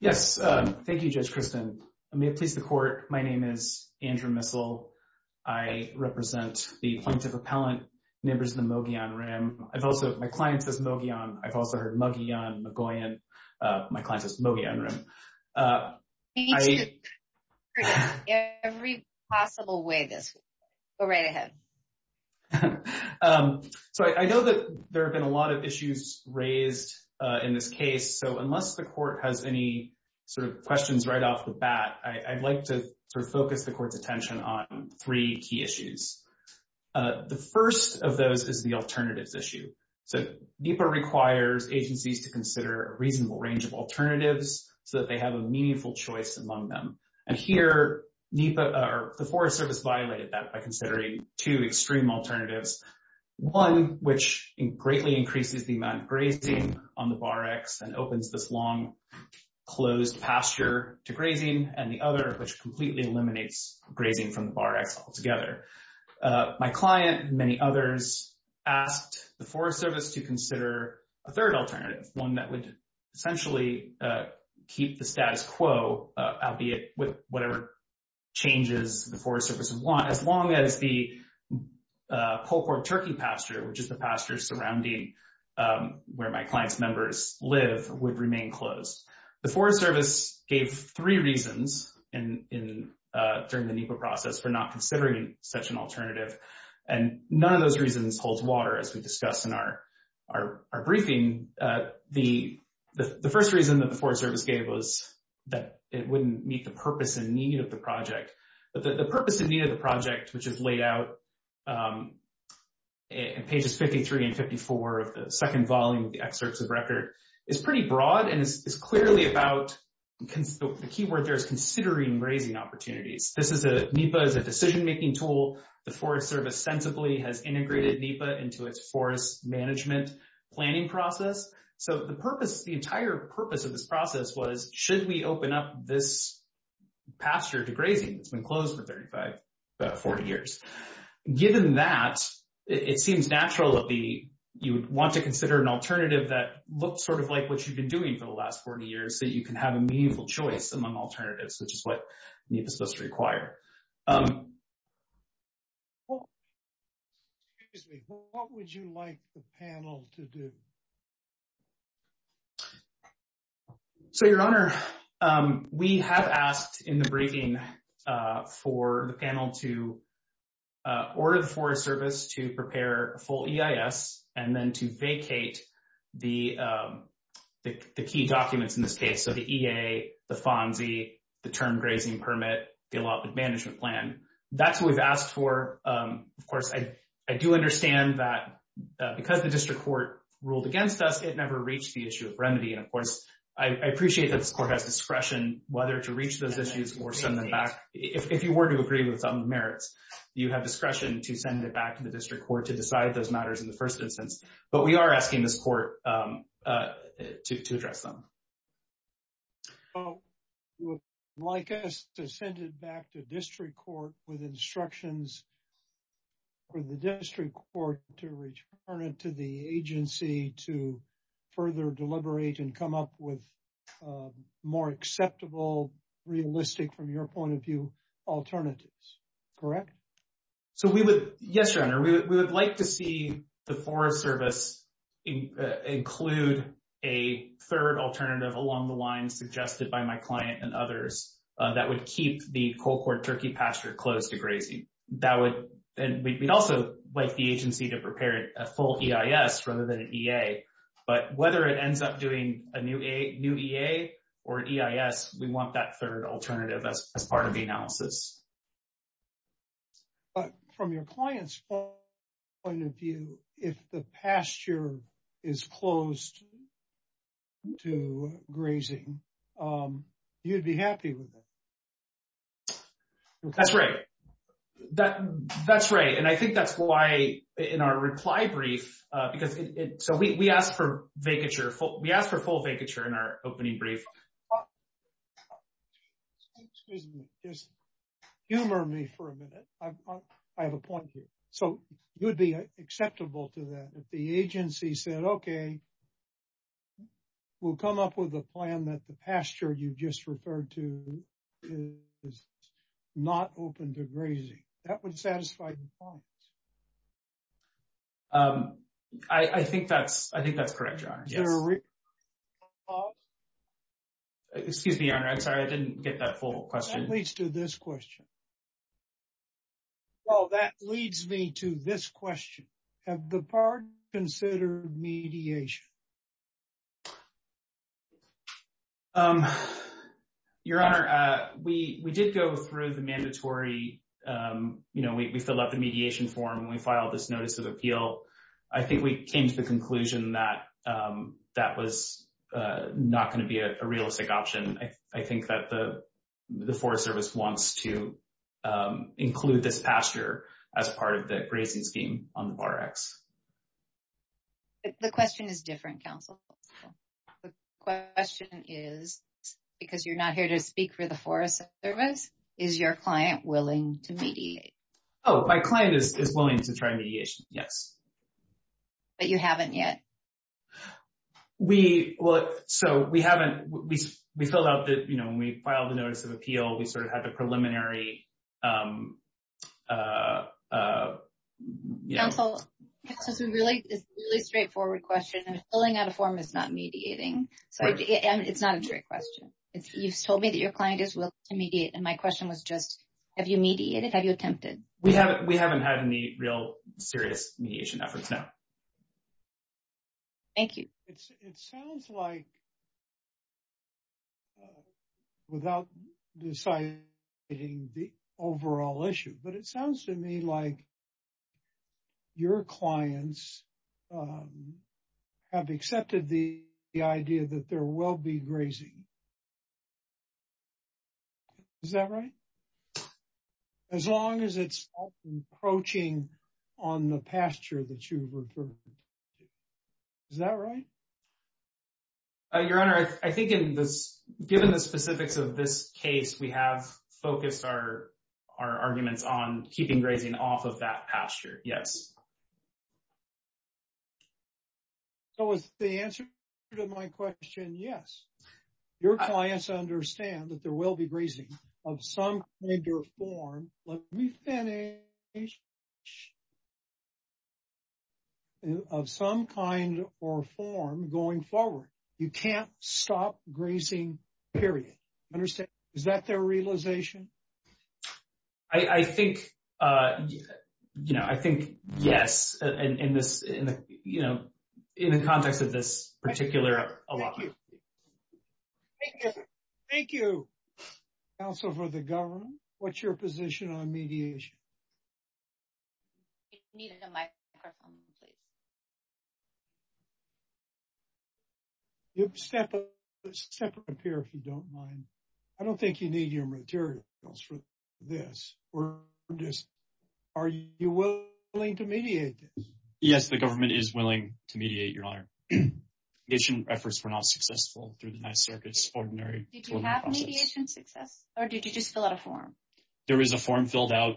Yes, thank you, Judge Kristen. May it please the court, my name is Andrew Missel. I represent the point of appellant neighbors of the Mogollon Rim. I've also, my client says Mogollon, I've also heard Mogollon, Mogollon, my client says Mogollon Rim. We need you to present in every possible way this week. Go right ahead. Okay. So I know that there have been a lot of issues raised in this case. So unless the court has any sort of questions right off the bat, I'd like to sort of focus the court's attention on three key issues. The first of those is the alternatives issue. So NEPA requires agencies to consider a reasonable range of alternatives so that they have a meaningful choice among them. And here, NEPA, or the Forest Service violated that by considering two extreme alternatives. One, which greatly increases the amount of grazing on the Bar X and opens this long closed pasture to grazing, and the other, which completely eliminates grazing from the Bar X altogether. My client and many others asked the Forest Service to consider a third alternative, one that would essentially keep the status quo, albeit with whatever changes the Forest Service would want, as long as the Polecorp Turkey pasture, which is the pasture surrounding where my client's members live, would remain closed. The Forest Service gave three reasons during the NEPA process for not considering such an alternative, and none of those reasons holds water, as we discussed in our briefing. The first reason that the Forest Service gave was that it wouldn't meet the purpose and need of the project. But the purpose and need of the project, which is laid out in pages 53 and 54 of the second volume of the excerpts of record, is pretty broad and is clearly about the key word there is considering grazing opportunities. NEPA is a decision-making tool. The Forest Service sensibly has integrated NEPA into its forest management planning process. So the entire purpose of this process was, should we open up this pasture to grazing? It's been closed for about 40 years. Given that, it seems natural that you would want to consider an alternative that looks sort of like what you've been doing for the last 40 years, so you can have a meaningful choice among alternatives, which is what NEPA is supposed to require. Excuse me. What would you like the panel to do? So, Your Honor, we have asked in the briefing for the panel to order the Forest Service to prepare a full EIS and then to vacate the key documents in this case, so the EA, the FONSI, the term grazing permit, the allotment management plan. That's what we've asked for. Of course, I do understand that because the district court ruled against us, it never reached the issue of remedy. And of course, I appreciate that this court has discretion whether to reach those issues or send them back. If you were to agree with some merits, you have discretion to send it back to the district court to decide those matters in the first instance. But we are asking this court to address them. So, you would like us to send it back to district court with instructions for the district court to return it to the agency to further deliberate and come up with more acceptable, realistic, from your point of view, alternatives, correct? So, yes, Your Honor, we would like to see the Forest Service include a third alternative along the lines suggested by my client and others that would keep the cold court turkey pasture close to grazing. And we'd also like the agency to prepare a full EIS rather than an EA. But whether it ends up doing a new EA or EIS, we want that third alternative as part of the analysis. But from your client's point of view, if the pasture is closed to grazing, you'd be happy with it. That's right. That's right. And I think that's why in our reply brief, because it, so we asked for vacature, we asked for full vacature in our opening brief. Excuse me, just humor me for a minute. I have a point here. So, it would be acceptable to that if the agency said, okay, we'll come up with a plan that the pasture you just referred to is not open to grazing. That would satisfy the client. I think that's correct, Your Honor. Yes. Excuse me, Your Honor. I'm sorry. I didn't get that full question. That leads to this question. Well, that leads me to this question. Have the parties considered mediation? Your Honor, we did go through the mandatory, you know, we fill out the mediation form and we filed this notice of appeal. I think we came to the conclusion that that was not going to be a realistic option. I think that the Forest Service wants to include this pasture as part of the grazing scheme on the Bar X. The question is different, counsel. The question is, because you're not here to speak for the client, is willing to try mediation? Yes. But you haven't yet? We, well, so we haven't, we filled out the, you know, when we filed the notice of appeal, we sort of had the preliminary, you know. Counsel, this is a really straightforward question. Filling out a form is not mediating. It's not a trick question. You've told me that your client is willing to mediate. And my question was just, have you mediated? Have you attempted? We haven't had any real serious mediation efforts, no. Thank you. It sounds like without deciding the overall issue, but it sounds to me like your clients have accepted the idea that there will be grazing. Is that right? As long as it's not encroaching on the pasture that you've referred to. Is that right? Your Honor, I think in this, given the specifics of this case, we have focused our arguments on keeping grazing off of that pasture. Yes. So is the answer to my question, yes? Your clients understand that there will be grazing of some kind or form. Let me finish. Of some kind or form going forward. You can't stop grazing, period. Understand? Is that their realization? I think, you know, I think yes. In this, you know, in the context of this particular. Thank you, counsel for the government. What's your position on mediation? You have a separate pair if you don't mind. I don't think you need your materials for this. We're just, are you willing to mediate this? Yes, the government is willing to mediate, Your Honor. Mediation efforts were not successful through the Ninth Circuit's ordinary process. Did you have mediation success or did you just fill out a form? There is a form filled out.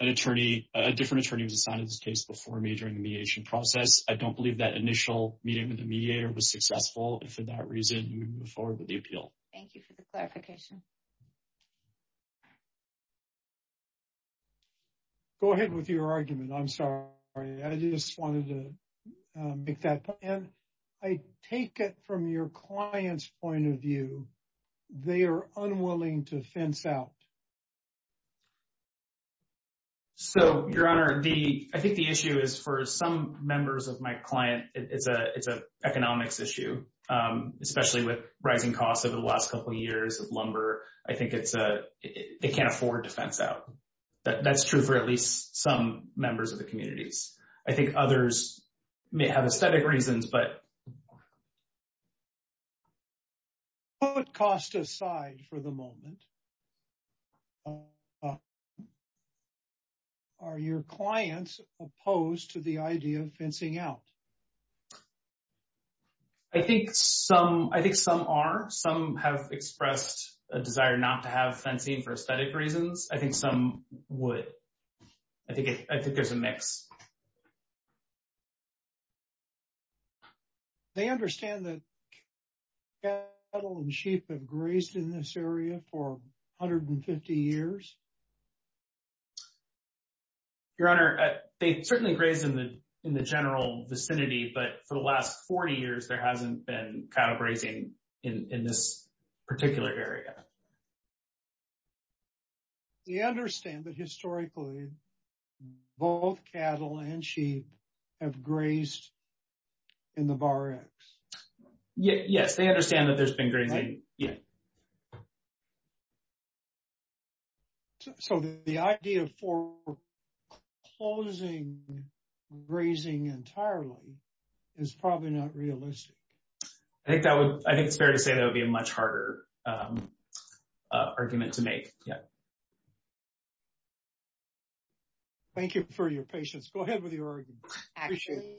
An attorney, a different attorney was assigned to this case before me during the mediation process. I don't believe that initial meeting with the mediator was successful. And for that reason, we move forward with the appeal. Thank you for the clarification. Go ahead with your argument. I'm sorry. I just wanted to make that point. And I take it from your client's point of view, they are unwilling to fence out. So, Your Honor, I think the issue is for some members of my client, it's an economics issue, especially with rising costs over the last couple of years of lumber. I think it can't afford to fence out. That's true for at least some members of the communities. I think others may have aesthetic reasons, but... Put cost aside for the moment. Are your clients opposed to the idea of fencing out? I think some are. Some have expressed a desire not to have fencing for aesthetic reasons. I think some would. I think there's a mix. They understand that cattle and sheep have grazed in this area for 150 years? Your Honor, they certainly graze in the general vicinity, but for the last 40 years, there hasn't been cattle grazing in this particular area. They understand that historically, both cattle and sheep have grazed in the barracks? Yes, they understand that there's been grazing. Yes. So, the idea for closing grazing entirely is probably not realistic. I think it's fair to say that would be a much harder argument to make. Thank you for your patience. Go ahead with your argument. Actually,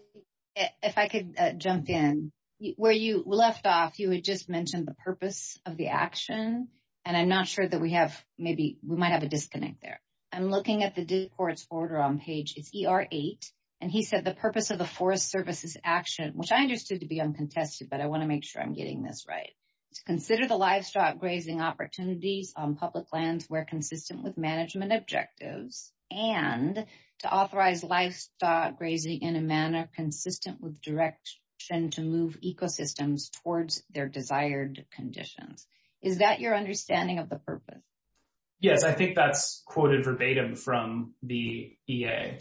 if I could jump in. Where you left off, you had just mentioned the purpose of the action, and I'm not sure that we have... Maybe we might have a disconnect there. I'm looking at the district court's order on page... It's ER8, and he said the purpose of the Forest Service's action, which I understood to be uncontested, but I want to make sure I'm getting this right. To consider the livestock grazing opportunities on public lands where consistent with management objectives, and to authorize livestock grazing in a manner consistent with direction to move ecosystems towards their desired conditions. Is that your understanding of the purpose? Yes, I think that's quoted verbatim from the EA.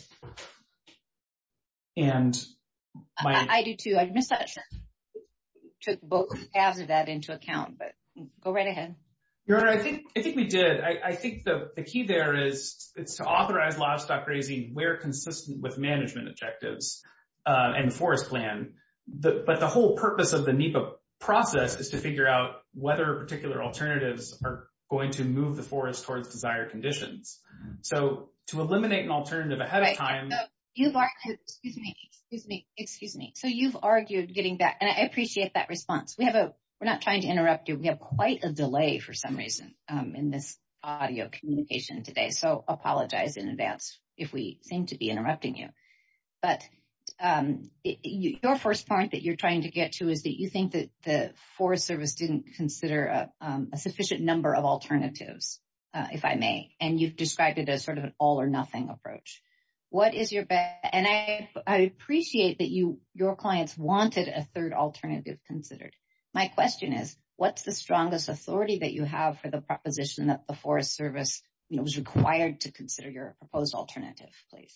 I do too. I took both halves of that into account, but go right ahead. Your Honor, I think we did. I think the key there is to authorize livestock grazing where consistent with management objectives and forest plan. But the whole purpose of the NEPA process is to figure out whether particular alternatives are going to move the forest towards desired conditions. So to eliminate an alternative ahead of time... Excuse me, excuse me. So you've argued getting back, and I appreciate that response. We're not trying to interrupt you. We have quite a delay for some reason in this audio communication today, so apologize in advance if we seem to be interrupting you. But your first point that you're trying to get to is that you think that the Forest Service didn't consider a sufficient number of alternatives, if I may, and you've described it as sort of an all or nothing approach. What is your best... And I appreciate that your clients wanted a third alternative considered. My question is, what's the strongest authority that you have for the proposition that the Forest Service was required to consider your proposed alternative, please?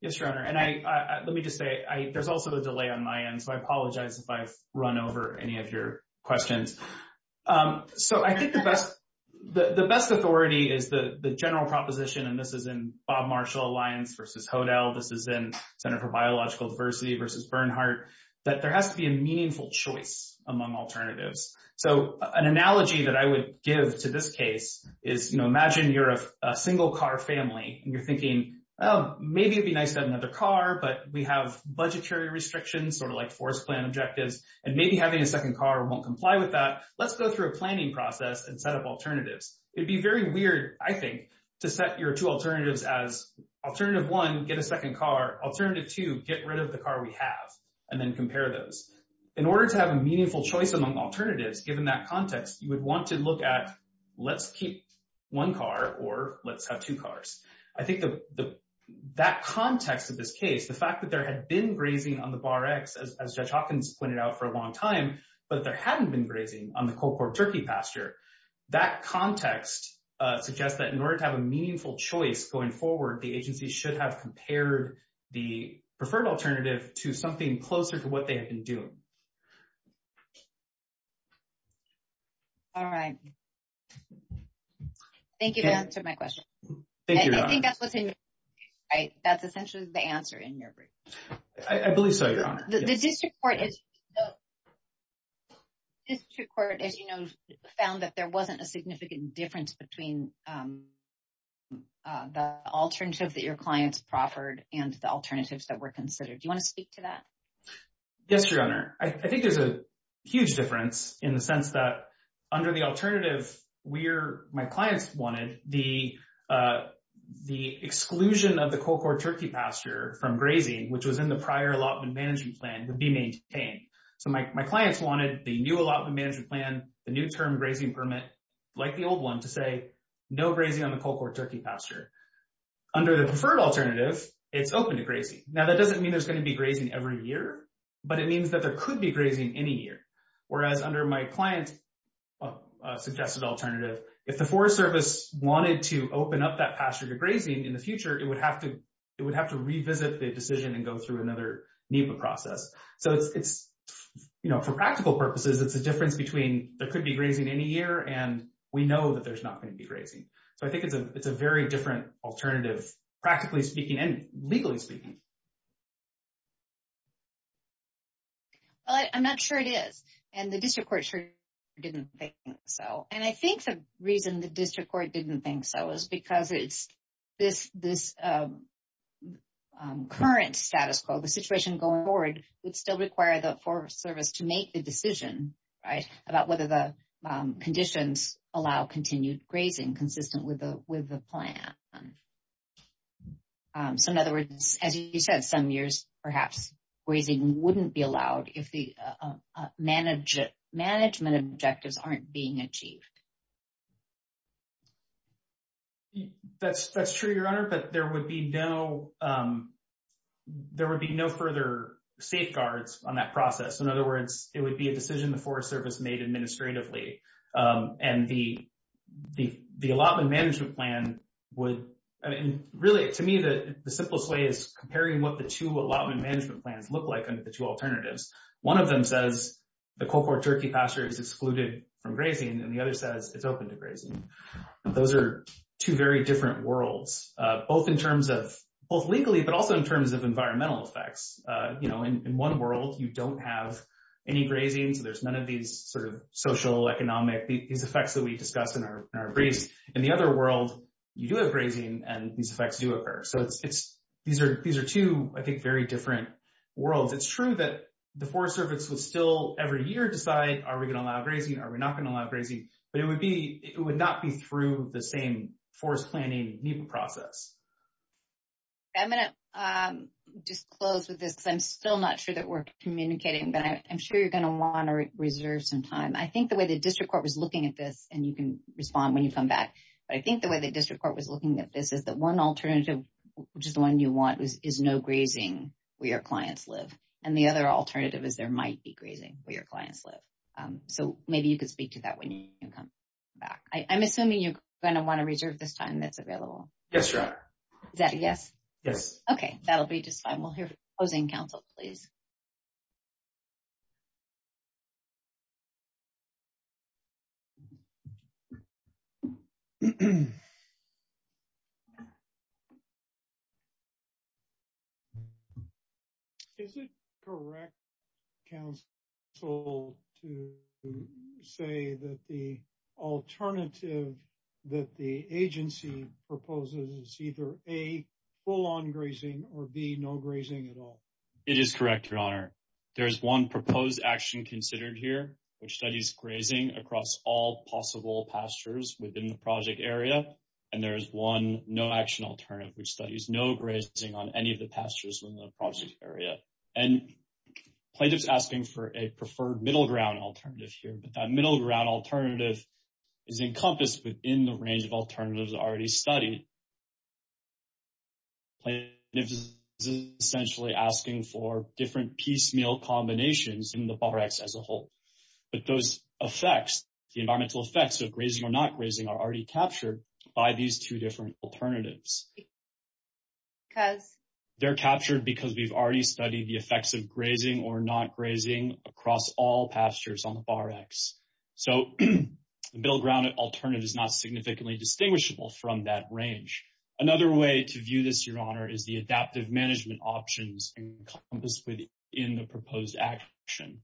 Yes, Your Honor. And let me just say, there's also a delay on my end, so I apologize if I've run over any of your questions. So I think the best authority is the general proposition, and this is in Bob Marshall Alliance versus Hodel, this is in Center for Biological Diversity versus Bernhardt, that there has to be a meaningful choice among alternatives. So an analogy that I would give to this case is, imagine you're a single-car family, and you're thinking, oh, maybe it'd be nice to have another car, but we have budgetary restrictions, sort of like forest plan objectives, and maybe having a second car won't comply with that. Let's go through a planning process and set up alternatives. It'd be very weird, I think, to set your two alternatives as, alternative one, get a second car, alternative two, get rid of the car we have, and then compare those. In order to have a meaningful choice among alternatives, given that context, you would want to look at, let's keep one car or let's have two cars. I think that context of this case, the fact that there had been grazing on the Bar X, as Judge Hawkins pointed out for a long time, but there hadn't been grazing on the cold-pored turkey pasture, that context suggests that in order to have a meaningful choice going forward, the agency should have compared the preferred alternative to something closer to what they had been doing. All right. Thank you for answering my question. Thank you, Your Honor. I think that's what's in your brief, right? That's essentially the answer in your brief. I believe so, Your Honor. The district court, as you know, found that there wasn't a significant difference between the alternative that your clients proffered and the alternatives that were considered. Do you want to speak to that? Yes, Your Honor. I think there's a huge difference in the sense that under the alternative my clients wanted, the exclusion of the cold-pored pasture from grazing, which was in the prior allotment management plan, would be maintained. So, my clients wanted the new allotment management plan, the new term grazing permit, like the old one, to say no grazing on the cold-pored turkey pasture. Under the preferred alternative, it's open to grazing. Now, that doesn't mean there's going to be grazing every year, but it means that there could be grazing any year. Whereas, under my client's suggested alternative, if the Forest Service wanted to open up that pasture to grazing in the future, it would have to revisit the decision and go through another NEPA process. So, for practical purposes, it's a difference between there could be grazing any year and we know that there's not going to be grazing. So, I think it's a very different alternative, practically speaking and legally speaking. Well, I'm not sure it is, and the district court sure didn't think so. I think the reason the district court didn't think so is because this current status quo, the situation going forward, would still require the Forest Service to make the decision about whether the conditions allow continued grazing consistent with the plan. So, in other words, as you said, some years, perhaps, grazing wouldn't be allowed if the management objectives aren't being achieved. That's true, Your Honor, but there would be no further safeguards on that process. In other words, it would be a decision the Forest Service made administratively. And the allotment management plan would... I mean, really, to me, the simplest way is comparing what the two allotment management plans look like under the two alternatives. One of them says the Coldport turkey pasture is excluded from grazing, and the other says it's open to grazing. Those are two very different worlds, both legally, but also in terms of environmental effects. In one world, you don't have any grazing, so there's none of these sort of social, economic, these effects that we discussed in our briefs. In the other world, you do have grazing, and these effects do occur. So, these are two, I think, very different worlds. It's true that the Forest Service would still, every year, decide, are we going to allow grazing? Are we not going to allow grazing? But it would not be through the same forest planning process. I'm going to just close with this because I'm still not sure that we're communicating, but I'm sure you're going to want to reserve some time. I think the way the district court was looking at this, and you can respond when you come back, but I think the way the district court was looking at this is that one alternative, which is the one you want, is no grazing where your clients live. And the other alternative is there might be grazing where clients live. So, maybe you could speak to that when you come back. I'm assuming you're going to want to reserve this time that's available. Yes, Your Honor. Is that a yes? Yes. Okay. That'll be just fine. We'll hear from the opposing counsel, please. Is it correct, counsel, to say that the alternative that the agency proposes is either, A, full on grazing, or B, no grazing at all? It is correct, Your Honor. There's one proposed action considered here, which studies grazing across all possible pastures within the project area. And there's one no action alternative, which studies no grazing on any of the pastures within the project area. And plaintiff's asking for a preferred middle ground alternative here, but that middle ground alternative is encompassed within the range of alternatives already studied. Plaintiff's essentially asking for different piecemeal combinations in the Bar X as a whole. But those effects, the environmental effects of grazing or not grazing, are already captured by these two different alternatives. Because? They're captured because we've already studied the effects of grazing or not grazing across all pastures on the Bar X. So, the middle ground alternative is not significantly distinguishable from that range. Another way to view this, Your Honor, is the adaptive management options encompassed within the proposed action.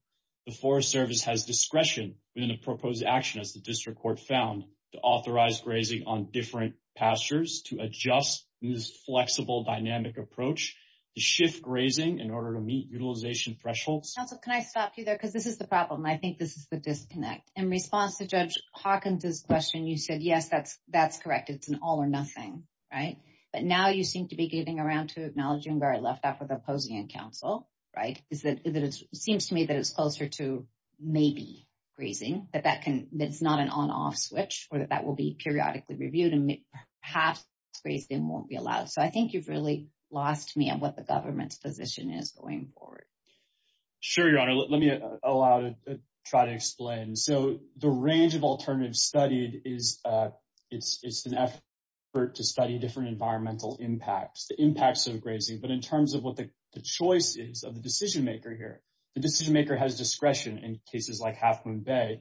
The Forest Service has discretion within the proposed action, as the district court found, to authorize grazing on different pastures, to adjust this flexible dynamic approach, to shift grazing in order to meet utilization thresholds. Counsel, can I stop you there? Because this is the problem. I think this is the disconnect. In response to Judge Hawkins' question, you said, yes, that's correct. It's an all or nothing, right? But now, you seem to be getting around to acknowledging where I left off with opposing counsel, right? It seems to me that it's closer to maybe grazing, that it's not an on-off switch, or that that will be periodically reviewed, and perhaps grazing won't be allowed. So, I think you've really lost me on what the government's position is going forward. Sure, Your Honor. Let me try to explain. So, the range of alternatives studied, it's an effort to study different environmental impacts, the impacts of grazing. But in terms of what the choice is of the decision-maker here, the decision-maker has discretion in cases like Half Moon Bay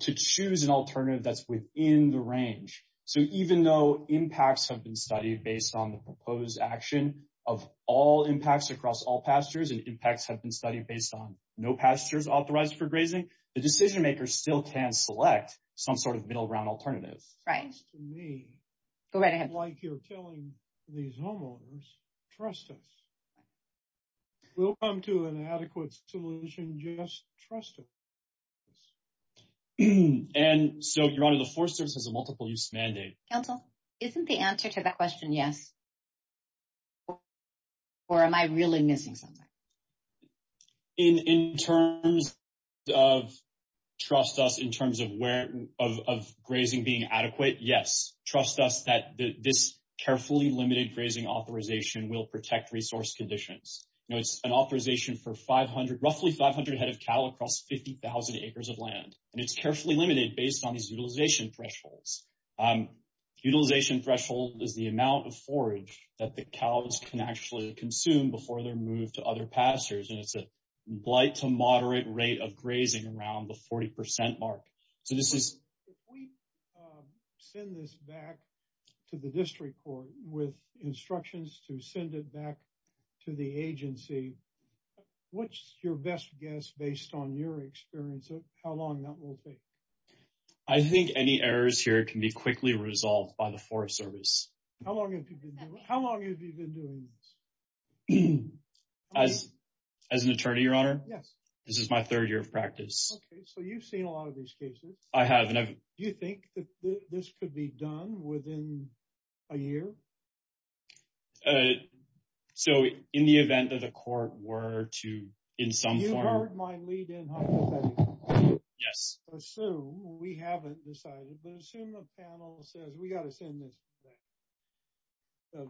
to choose an alternative that's within the range. So, even though impacts have been studied based on no pastures authorized for grazing, the decision-maker still can select some sort of middle-ground alternative. Right. It seems to me- Go right ahead. Like you're telling these homeowners, trust us. We'll come to an adequate solution, just trust us. And so, Your Honor, the Forest Service has a multiple-use mandate. Counsel, isn't the answer to that question yes, or am I really missing something? In terms of trust us in terms of grazing being adequate, yes. Trust us that this carefully limited grazing authorization will protect resource conditions. It's an authorization for roughly 500 head of cattle across 50,000 acres of land, and it's carefully limited based on these utilization thresholds. Utilization threshold is the amount of forage that the cows can actually consume before they're moved to other pastures. And it's a blight to moderate rate of grazing around the 40% mark. So, this is- If we send this back to the district court with instructions to send it back to the agency, what's your best guess based on your experience of how long that will take? I think any errors here can be quickly resolved by the Forest Service. How long have you been doing this? As an attorney, Your Honor? Yes. This is my third year of practice. Okay. So, you've seen a lot of these cases. I have, and I've- Do you think that this could be done within a year? So, in the event that the court were to, in some form- You heard my lead-in hypothetical. Yes. Assume we haven't decided, but assume the panel says, we got to send this back.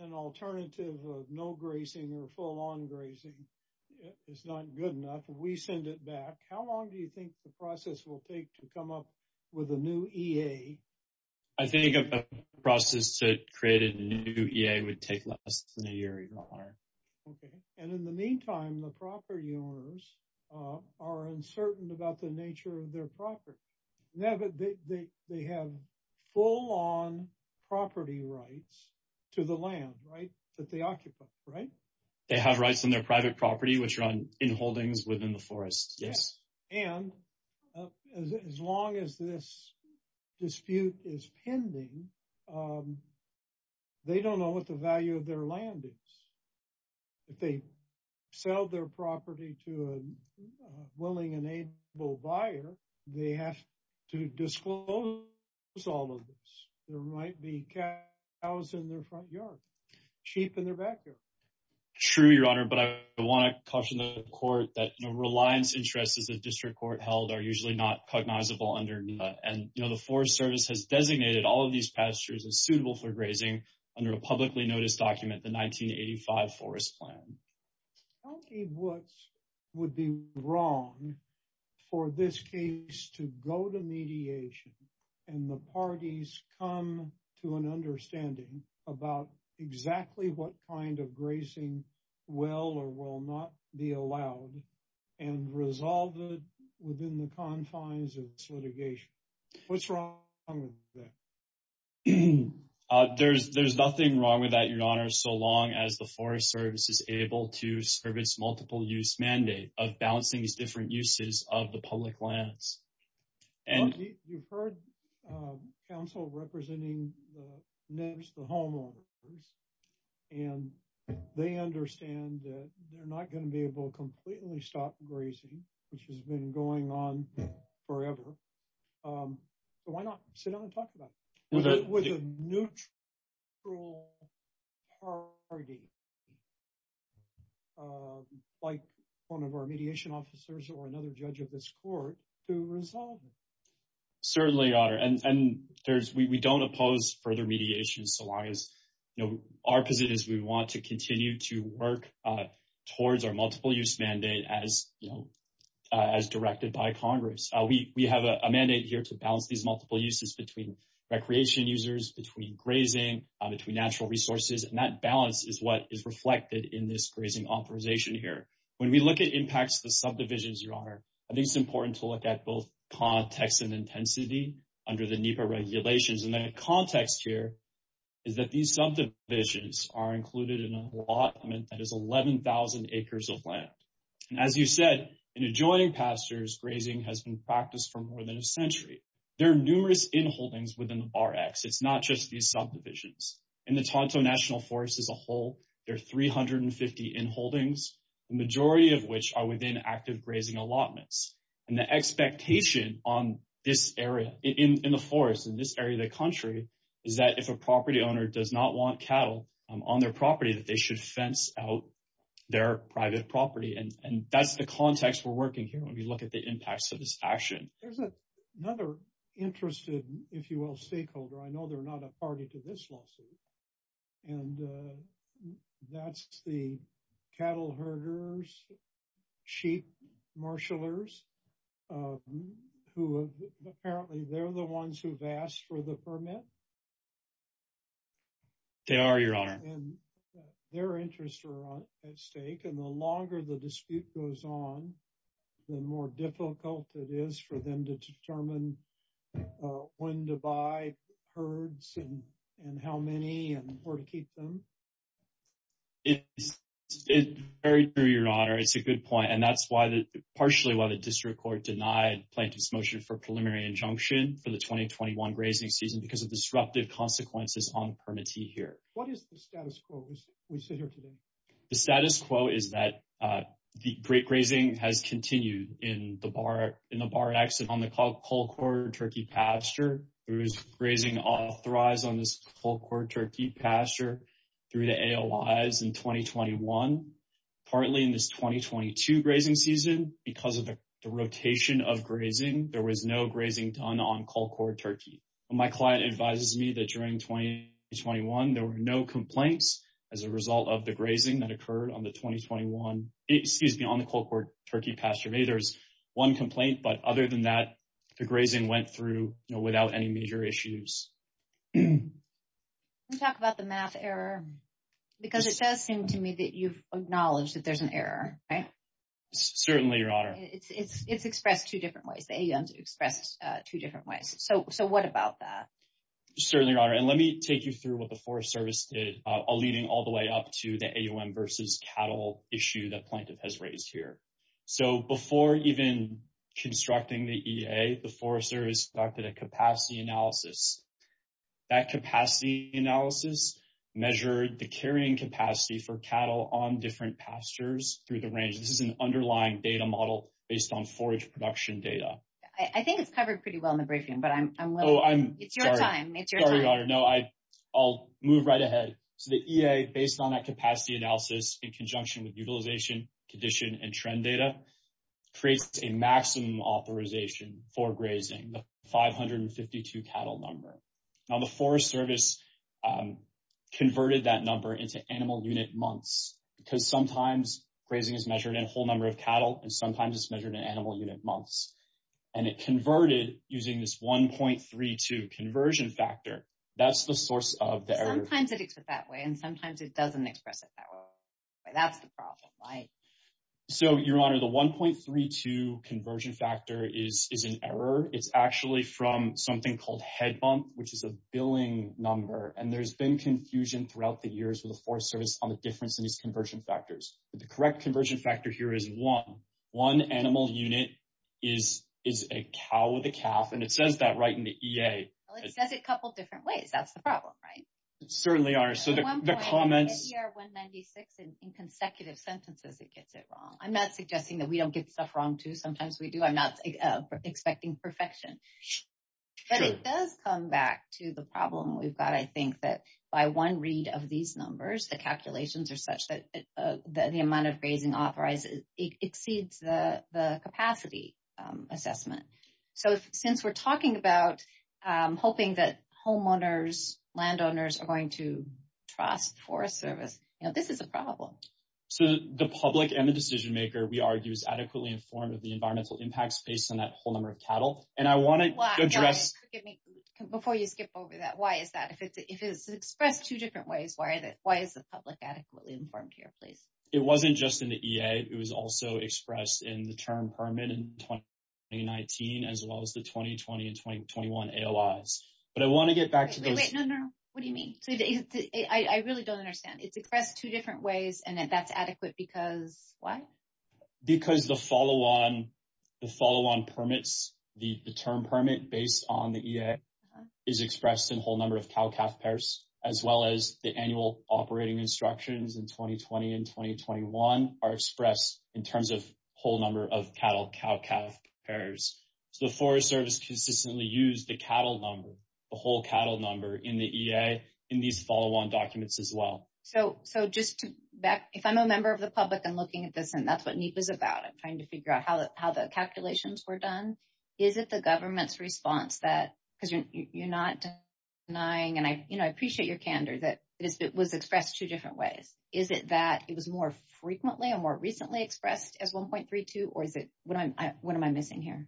An alternative of no grazing or full-on grazing is not good enough. We send it back. How long do you think the process will take to come up with a new EA? I think a process to create a new EA would take less than a year, Your Honor. Okay. And in the meantime, the property owners are uncertain about the nature of their property. They have full-on property rights to the land, right? That they occupy, right? They have rights on their private property, which are in holdings within the forest. Yes. And as long as this dispute is pending, they don't know what the value of their land is. If they sell their property to a willing and able buyer, they have to disclose all of this. There might be cows in their front yard, sheep in their backyard. True, Your Honor, but I want to caution the court that, you know, reliance interests as a district court held are usually not cognizable under NEDA. And, you know, the Forest Service has designated all of these pastures as suitable for grazing under a publicly noticed document, the 1985 Forest Plan. How many votes would be wrong for this case to go to mediation and the parties come to an understanding about exactly what kind of grazing will or will not be allowed and resolve it within the confines of this litigation? What's wrong with that? There's nothing wrong with that, Your Honor, so long as the Forest Service is able to service multiple use mandate of balancing these different uses of the public lands. You've heard counsel representing NEDS, the homeowners, and they understand that they're not going to be able to completely stop grazing, which has been going on forever. But why not sit down and talk about it with a neutral party, like one of our mediation officers or another judge of this court to resolve it? Certainly, Your Honor, and we don't oppose further mediation so long as, you know, our position is we want to continue to work towards our multiple use mandate as, you know, directed by Congress. We have a mandate here to balance these multiple uses between recreation users, between grazing, between natural resources, and that balance is what is reflected in this grazing authorization here. When we look at impacts to subdivisions, Your Honor, I think it's important to look at both context and intensity under the NEPA regulations. And the context here is that these subdivisions are included in an allotment that is 11,000 acres of land. And as you said, in adjoining pastures, grazing has been practiced for more than a century. There are numerous inholdings within the Bar X. It's not just these subdivisions. In the Tonto National Forest as a whole, there are 350 inholdings, the majority of which are within active grazing allotments. And the expectation in the forest, in this area of the country, is that if a property owner does not want cattle on their property, that they should fence out their private property. And that's the context we're working here when we look at the impacts of this action. There's another interested, if you will, stakeholder. I know they're not a party to this lawsuit. And that's the cattle herders, sheep marshallers, who apparently they're the ones who've asked for the permit. They are, Your Honor. And their interests are at stake. And the longer the dispute goes on, the more difficult it is for them to determine when to buy herds and how many and where to keep them. It's very true, Your Honor. It's a good point. And that's partially why the district court denied Plaintiff's motion for preliminary injunction for the 2021 grazing season, because of disruptive consequences on permittee here. What is the status quo? We sit here today. The status quo is that the great grazing has continued in the bar, in the bar exit on the Colcord Turkey pasture. There is grazing authorized on this Colcord Turkey pasture through the AOIs in 2021. Partly in this 2022 grazing season, because of the rotation of grazing, there was no grazing done on Colcord Turkey. My client advises me that during 2021, there were no complaints as a result of the grazing that occurred on the 2021, excuse me, on the Colcord Turkey pasture. Maybe there's one complaint, but other than that, the grazing went through without any major issues. Can you talk about the math error? Because it does seem to me that you've acknowledged that there's an error, right? Certainly, Your Honor. It's expressed two different ways. The AOMs expressed two different ways. So what about that? Certainly, Your Honor. And let me take you through what the Forest Service did, leading all the way up to the AOM versus cattle issue that Plaintiff has raised here. So before even constructing the EA, the Forest Service conducted a capacity analysis. That capacity analysis measured the carrying capacity for cattle on different pastures through the range. This is an underlying data model based on forage production data. I think it's covered pretty well in the briefing, but I'm, I'm willing. Oh, I'm sorry. It's your time. It's your time. Sorry, Your Honor. No, I'll move right ahead. So the EA, based on that capacity analysis, in conjunction with utilization, condition, and trend data, creates a maximum authorization for grazing, the 552 cattle number. Now, the Forest Service converted that number into animal unit months, because sometimes grazing is measured in a whole number of cattle, and sometimes it's measured in animal unit months. And it converted using this 1.32 conversion factor. That's the source of the error. Sometimes it's expressed that way, sometimes it doesn't express it that way. That's the problem, right? So, Your Honor, the 1.32 conversion factor is, is an error. It's actually from something called head month, which is a billing number. And there's been confusion throughout the years with the Forest Service on the difference in these conversion factors. The correct conversion factor here is one. One animal unit is, is a cow with a calf. And it says that right in the EA. Well, it says it a couple of different ways. That's the problem, right? Certainly are. So, the comments... At one point, in year 196, in consecutive sentences, it gets it wrong. I'm not suggesting that we don't get stuff wrong too. Sometimes we do. I'm not expecting perfection. But it does come back to the problem we've got. I think that by one read of these numbers, the calculations are such that the amount of grazing authorized exceeds the capacity assessment. So, since we're talking about hoping that homeowners, landowners are going to trust the Forest Service, this is a problem. So, the public and the decision-maker, we argue, is adequately informed of the environmental impacts based on that whole number of cattle. And I want to address... Before you skip over that, why is that? If it's expressed two different ways, why is the public adequately informed here, please? It wasn't just in the EA. It was also expressed in the term permit in 2019, as well as the 2020 and 2021 AOIs. But I want to get back to those... Wait, wait, no, no, no. What do you mean? I really don't understand. It's expressed two different ways, and that's adequate because why? Because the follow-on permits, the term permit based on the EA, is expressed in whole number of cow-calf pairs, as well as the annual operating instructions in 2020 and 2021 are expressed in terms of whole number of cattle-cow-calf pairs. So, the Forest Service consistently used the cattle number, the whole cattle number in the EA in these follow-on documents as well. So, just to back... If I'm a member of the public and looking at this, and that's what NEPA is about. I'm trying to figure out how the calculations were done. Is it the government's denying... And I appreciate your candor that it was expressed two different ways. Is it that it was more frequently and more recently expressed as 1.32? Or is it... What am I missing here?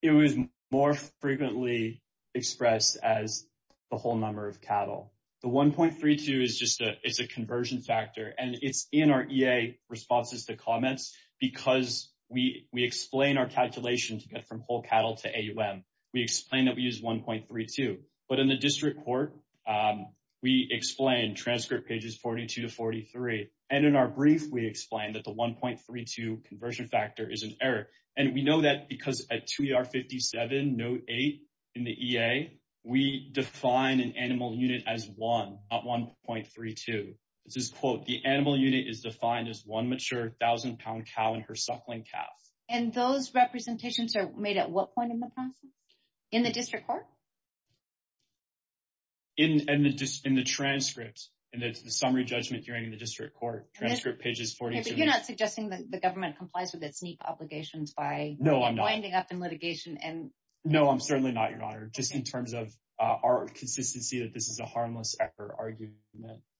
It was more frequently expressed as the whole number of cattle. The 1.32 is just a... It's a conversion factor. And it's in our EA responses to comments because we explain our calculation to from whole cattle to AUM. We explain that we use 1.32. But in the district court, we explain transcript pages 42 to 43. And in our brief, we explain that the 1.32 conversion factor is an error. And we know that because at 2ER57, note eight in the EA, we define an animal unit as one, not 1.32. This is, quote, the animal unit is defined as one mature thousand-pound cow and her suckling calf. And those representations are made at what point in the process? In the district court? In the transcripts. And it's the summary judgment hearing in the district court, transcript pages 42 to 43. Yeah, but you're not suggesting that the government complies with its neat obligations by... No, I'm not. Winding up in litigation and... No, I'm certainly not, Your Honor, just in terms of our consistency that this is a harmless error argument.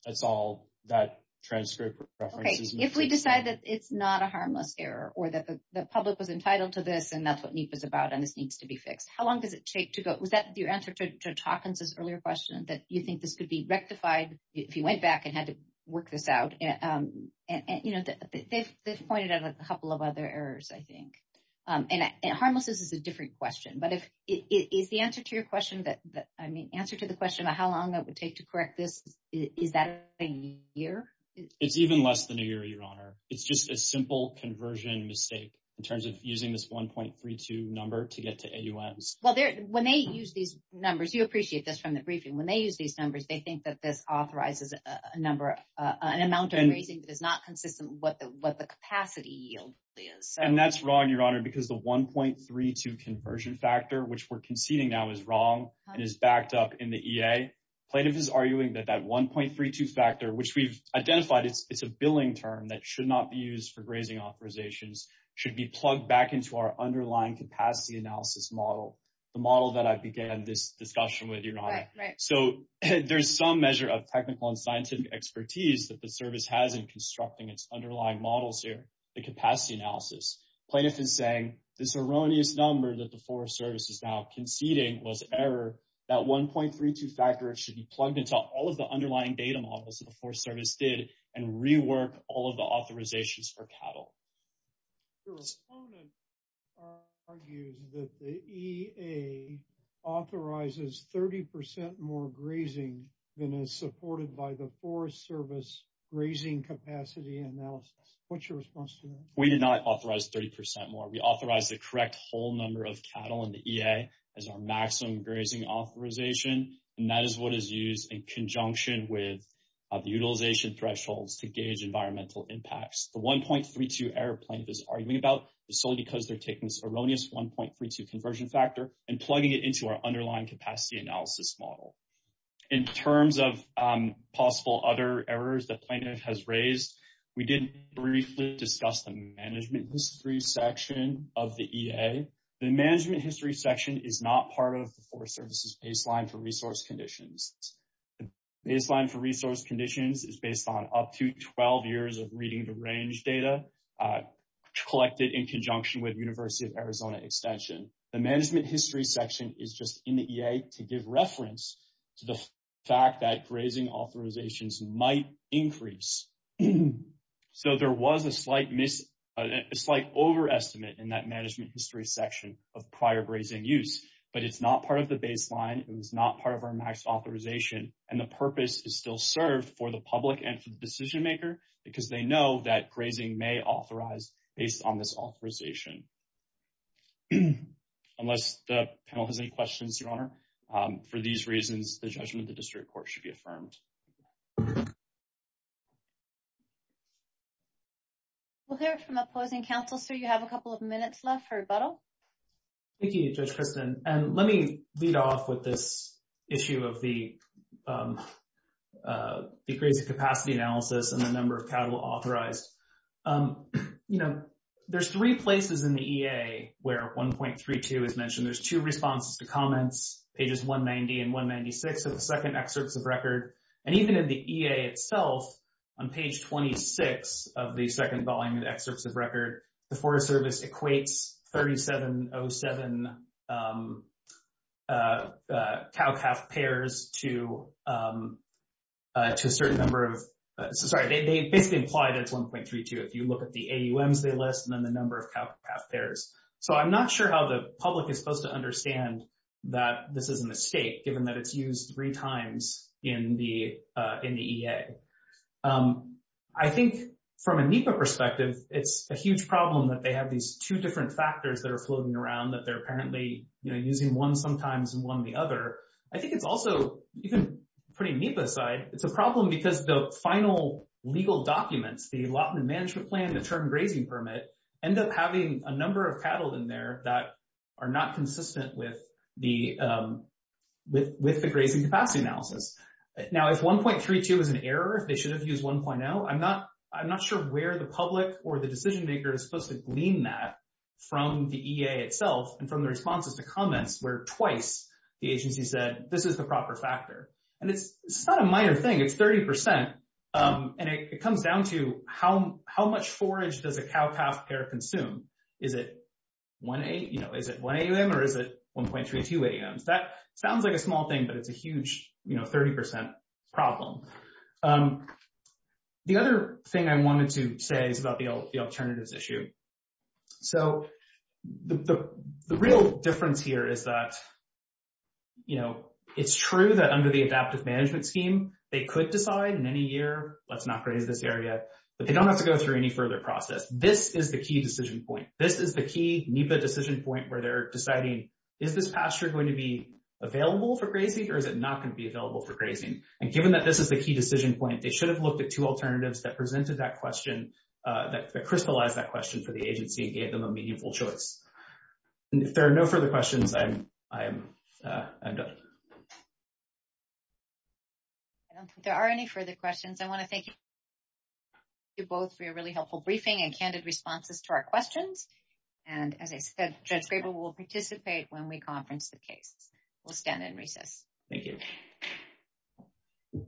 That's all that transcript references. Okay. If we decide that it's not a harmless error or that the public was entitled to this and that's what NEPA is about and this needs to be fixed, how long does it take to go? Was that your answer to Taukens' earlier question that you think this could be rectified if you went back and had to work this out? They've pointed out a couple of other errors, I think. And harmless is a different question. But is the answer to your question that, I mean, answer to the question about how long that would take to correct this, is that a year? It's even less than a year, Your Honor. It's just a simple conversion mistake in terms of using this 1.32 number to get to AUMs. Well, when they use these numbers, you appreciate this from the briefing. When they use these numbers, they think that this authorizes an amount of grazing that is not consistent with what the capacity yield is. And that's wrong, Your Honor, because the 1.32 conversion factor, which we're conceding now, is wrong and is backed up in the EA. Plaintiff is arguing that that 1.32 factor, which we've identified, it's a billing term that should not be used for grazing authorizations, should be plugged back into our underlying capacity analysis model, the model that I began this discussion with, Your Honor. So there's some measure of technical and scientific expertise that the service has in constructing its underlying models here, the capacity analysis. Plaintiff is saying this erroneous number that the Forest Service is now conceding was error. That 1.32 factor should be plugged into all of the underlying data models that the Forest Service did and rework all of the authorizations for cattle. Your opponent argues that the EA authorizes 30% more grazing than is supported by the Forest Service grazing capacity analysis. What's your response to that? We did not authorize 30% more. We authorized the correct whole number of cattle in the EA as our maximum grazing authorization. And that is what is used in conjunction with the solely because they're taking this erroneous 1.32 conversion factor and plugging it into our underlying capacity analysis model. In terms of possible other errors that Plaintiff has raised, we did briefly discuss the management history section of the EA. The management history section is not part of the Forest Service's baseline for resource conditions. The baseline for resource conditions is based on up to 12 years of reading the range data collected in conjunction with University of Arizona Extension. The management history section is just in the EA to give reference to the fact that grazing authorizations might increase. So there was a slight overestimate in that management history section of prior grazing use, but it's not part of the baseline. It was not part of our max authorization. And the purpose is still served for the public and for the decision maker, because they know that grazing may authorize based on this authorization. Unless the panel has any questions, Your Honor, for these reasons, the judgment of the district court should be affirmed. We'll hear from opposing counsel. So you have a couple of minutes left for rebuttal. Thank you, Judge Christin. And let me lead off with this issue of the grazing capacity analysis and the number of cattle authorized. There's three places in the EA where 1.32 is mentioned. There's two responses to comments, pages 190 and 196 of the second excerpts of record. And even in the EA itself, on page 26 of the second volume of the excerpts of record, the Forest Service equates 3707 cow-calf pairs to a certain number of... Sorry, they basically implied it's 1.32 if you look at the AUMs they list and then the number of cow-calf pairs. So I'm not sure how the public is supposed to understand that this is a mistake, given that it's used three times in the EA. I think from a NEPA perspective, it's a huge problem that they have these two different factors that are floating around that they're apparently using one sometimes and one the other. I think it's also, even putting NEPA aside, it's a problem because the final legal documents, the allotment management plan, the term grazing permit, end up having a number of cattle in there that are not consistent with the grazing capacity analysis. Now, if 1.32 is an error, if they should have used 1.0, I'm not sure where the public or the decision maker is supposed to glean that from the EA itself and from the responses to comments where twice the agency said this is the proper factor. And it's not a minor thing, it's 30%. And it comes down to how much forage does a cow-calf pair consume? Is it one AUM or is it 1.32 AUMs? That sounds like a small thing, but it's a huge 30% problem. The other thing I wanted to say is about the alternatives issue. So the real difference here is that it's true that under the adaptive management scheme, they could decide in any year, let's not graze this area, but they don't have to go through any further process. This is the key decision point. This is the key NEPA decision point where they're deciding, is this pasture going to be available for grazing or is it not going to be available for grazing? And given that this is the key decision point, they should have looked at two alternatives that presented that question, that crystallized that question for the agency and gave them a meaningful choice. And if there are no further questions, I'm done. I don't think there are any further questions. I want to thank you both for your really helpful briefing and candid responses to our questions. And as I said, Judge Graber will participate when we conference the case. We'll stand and recess. Thank you.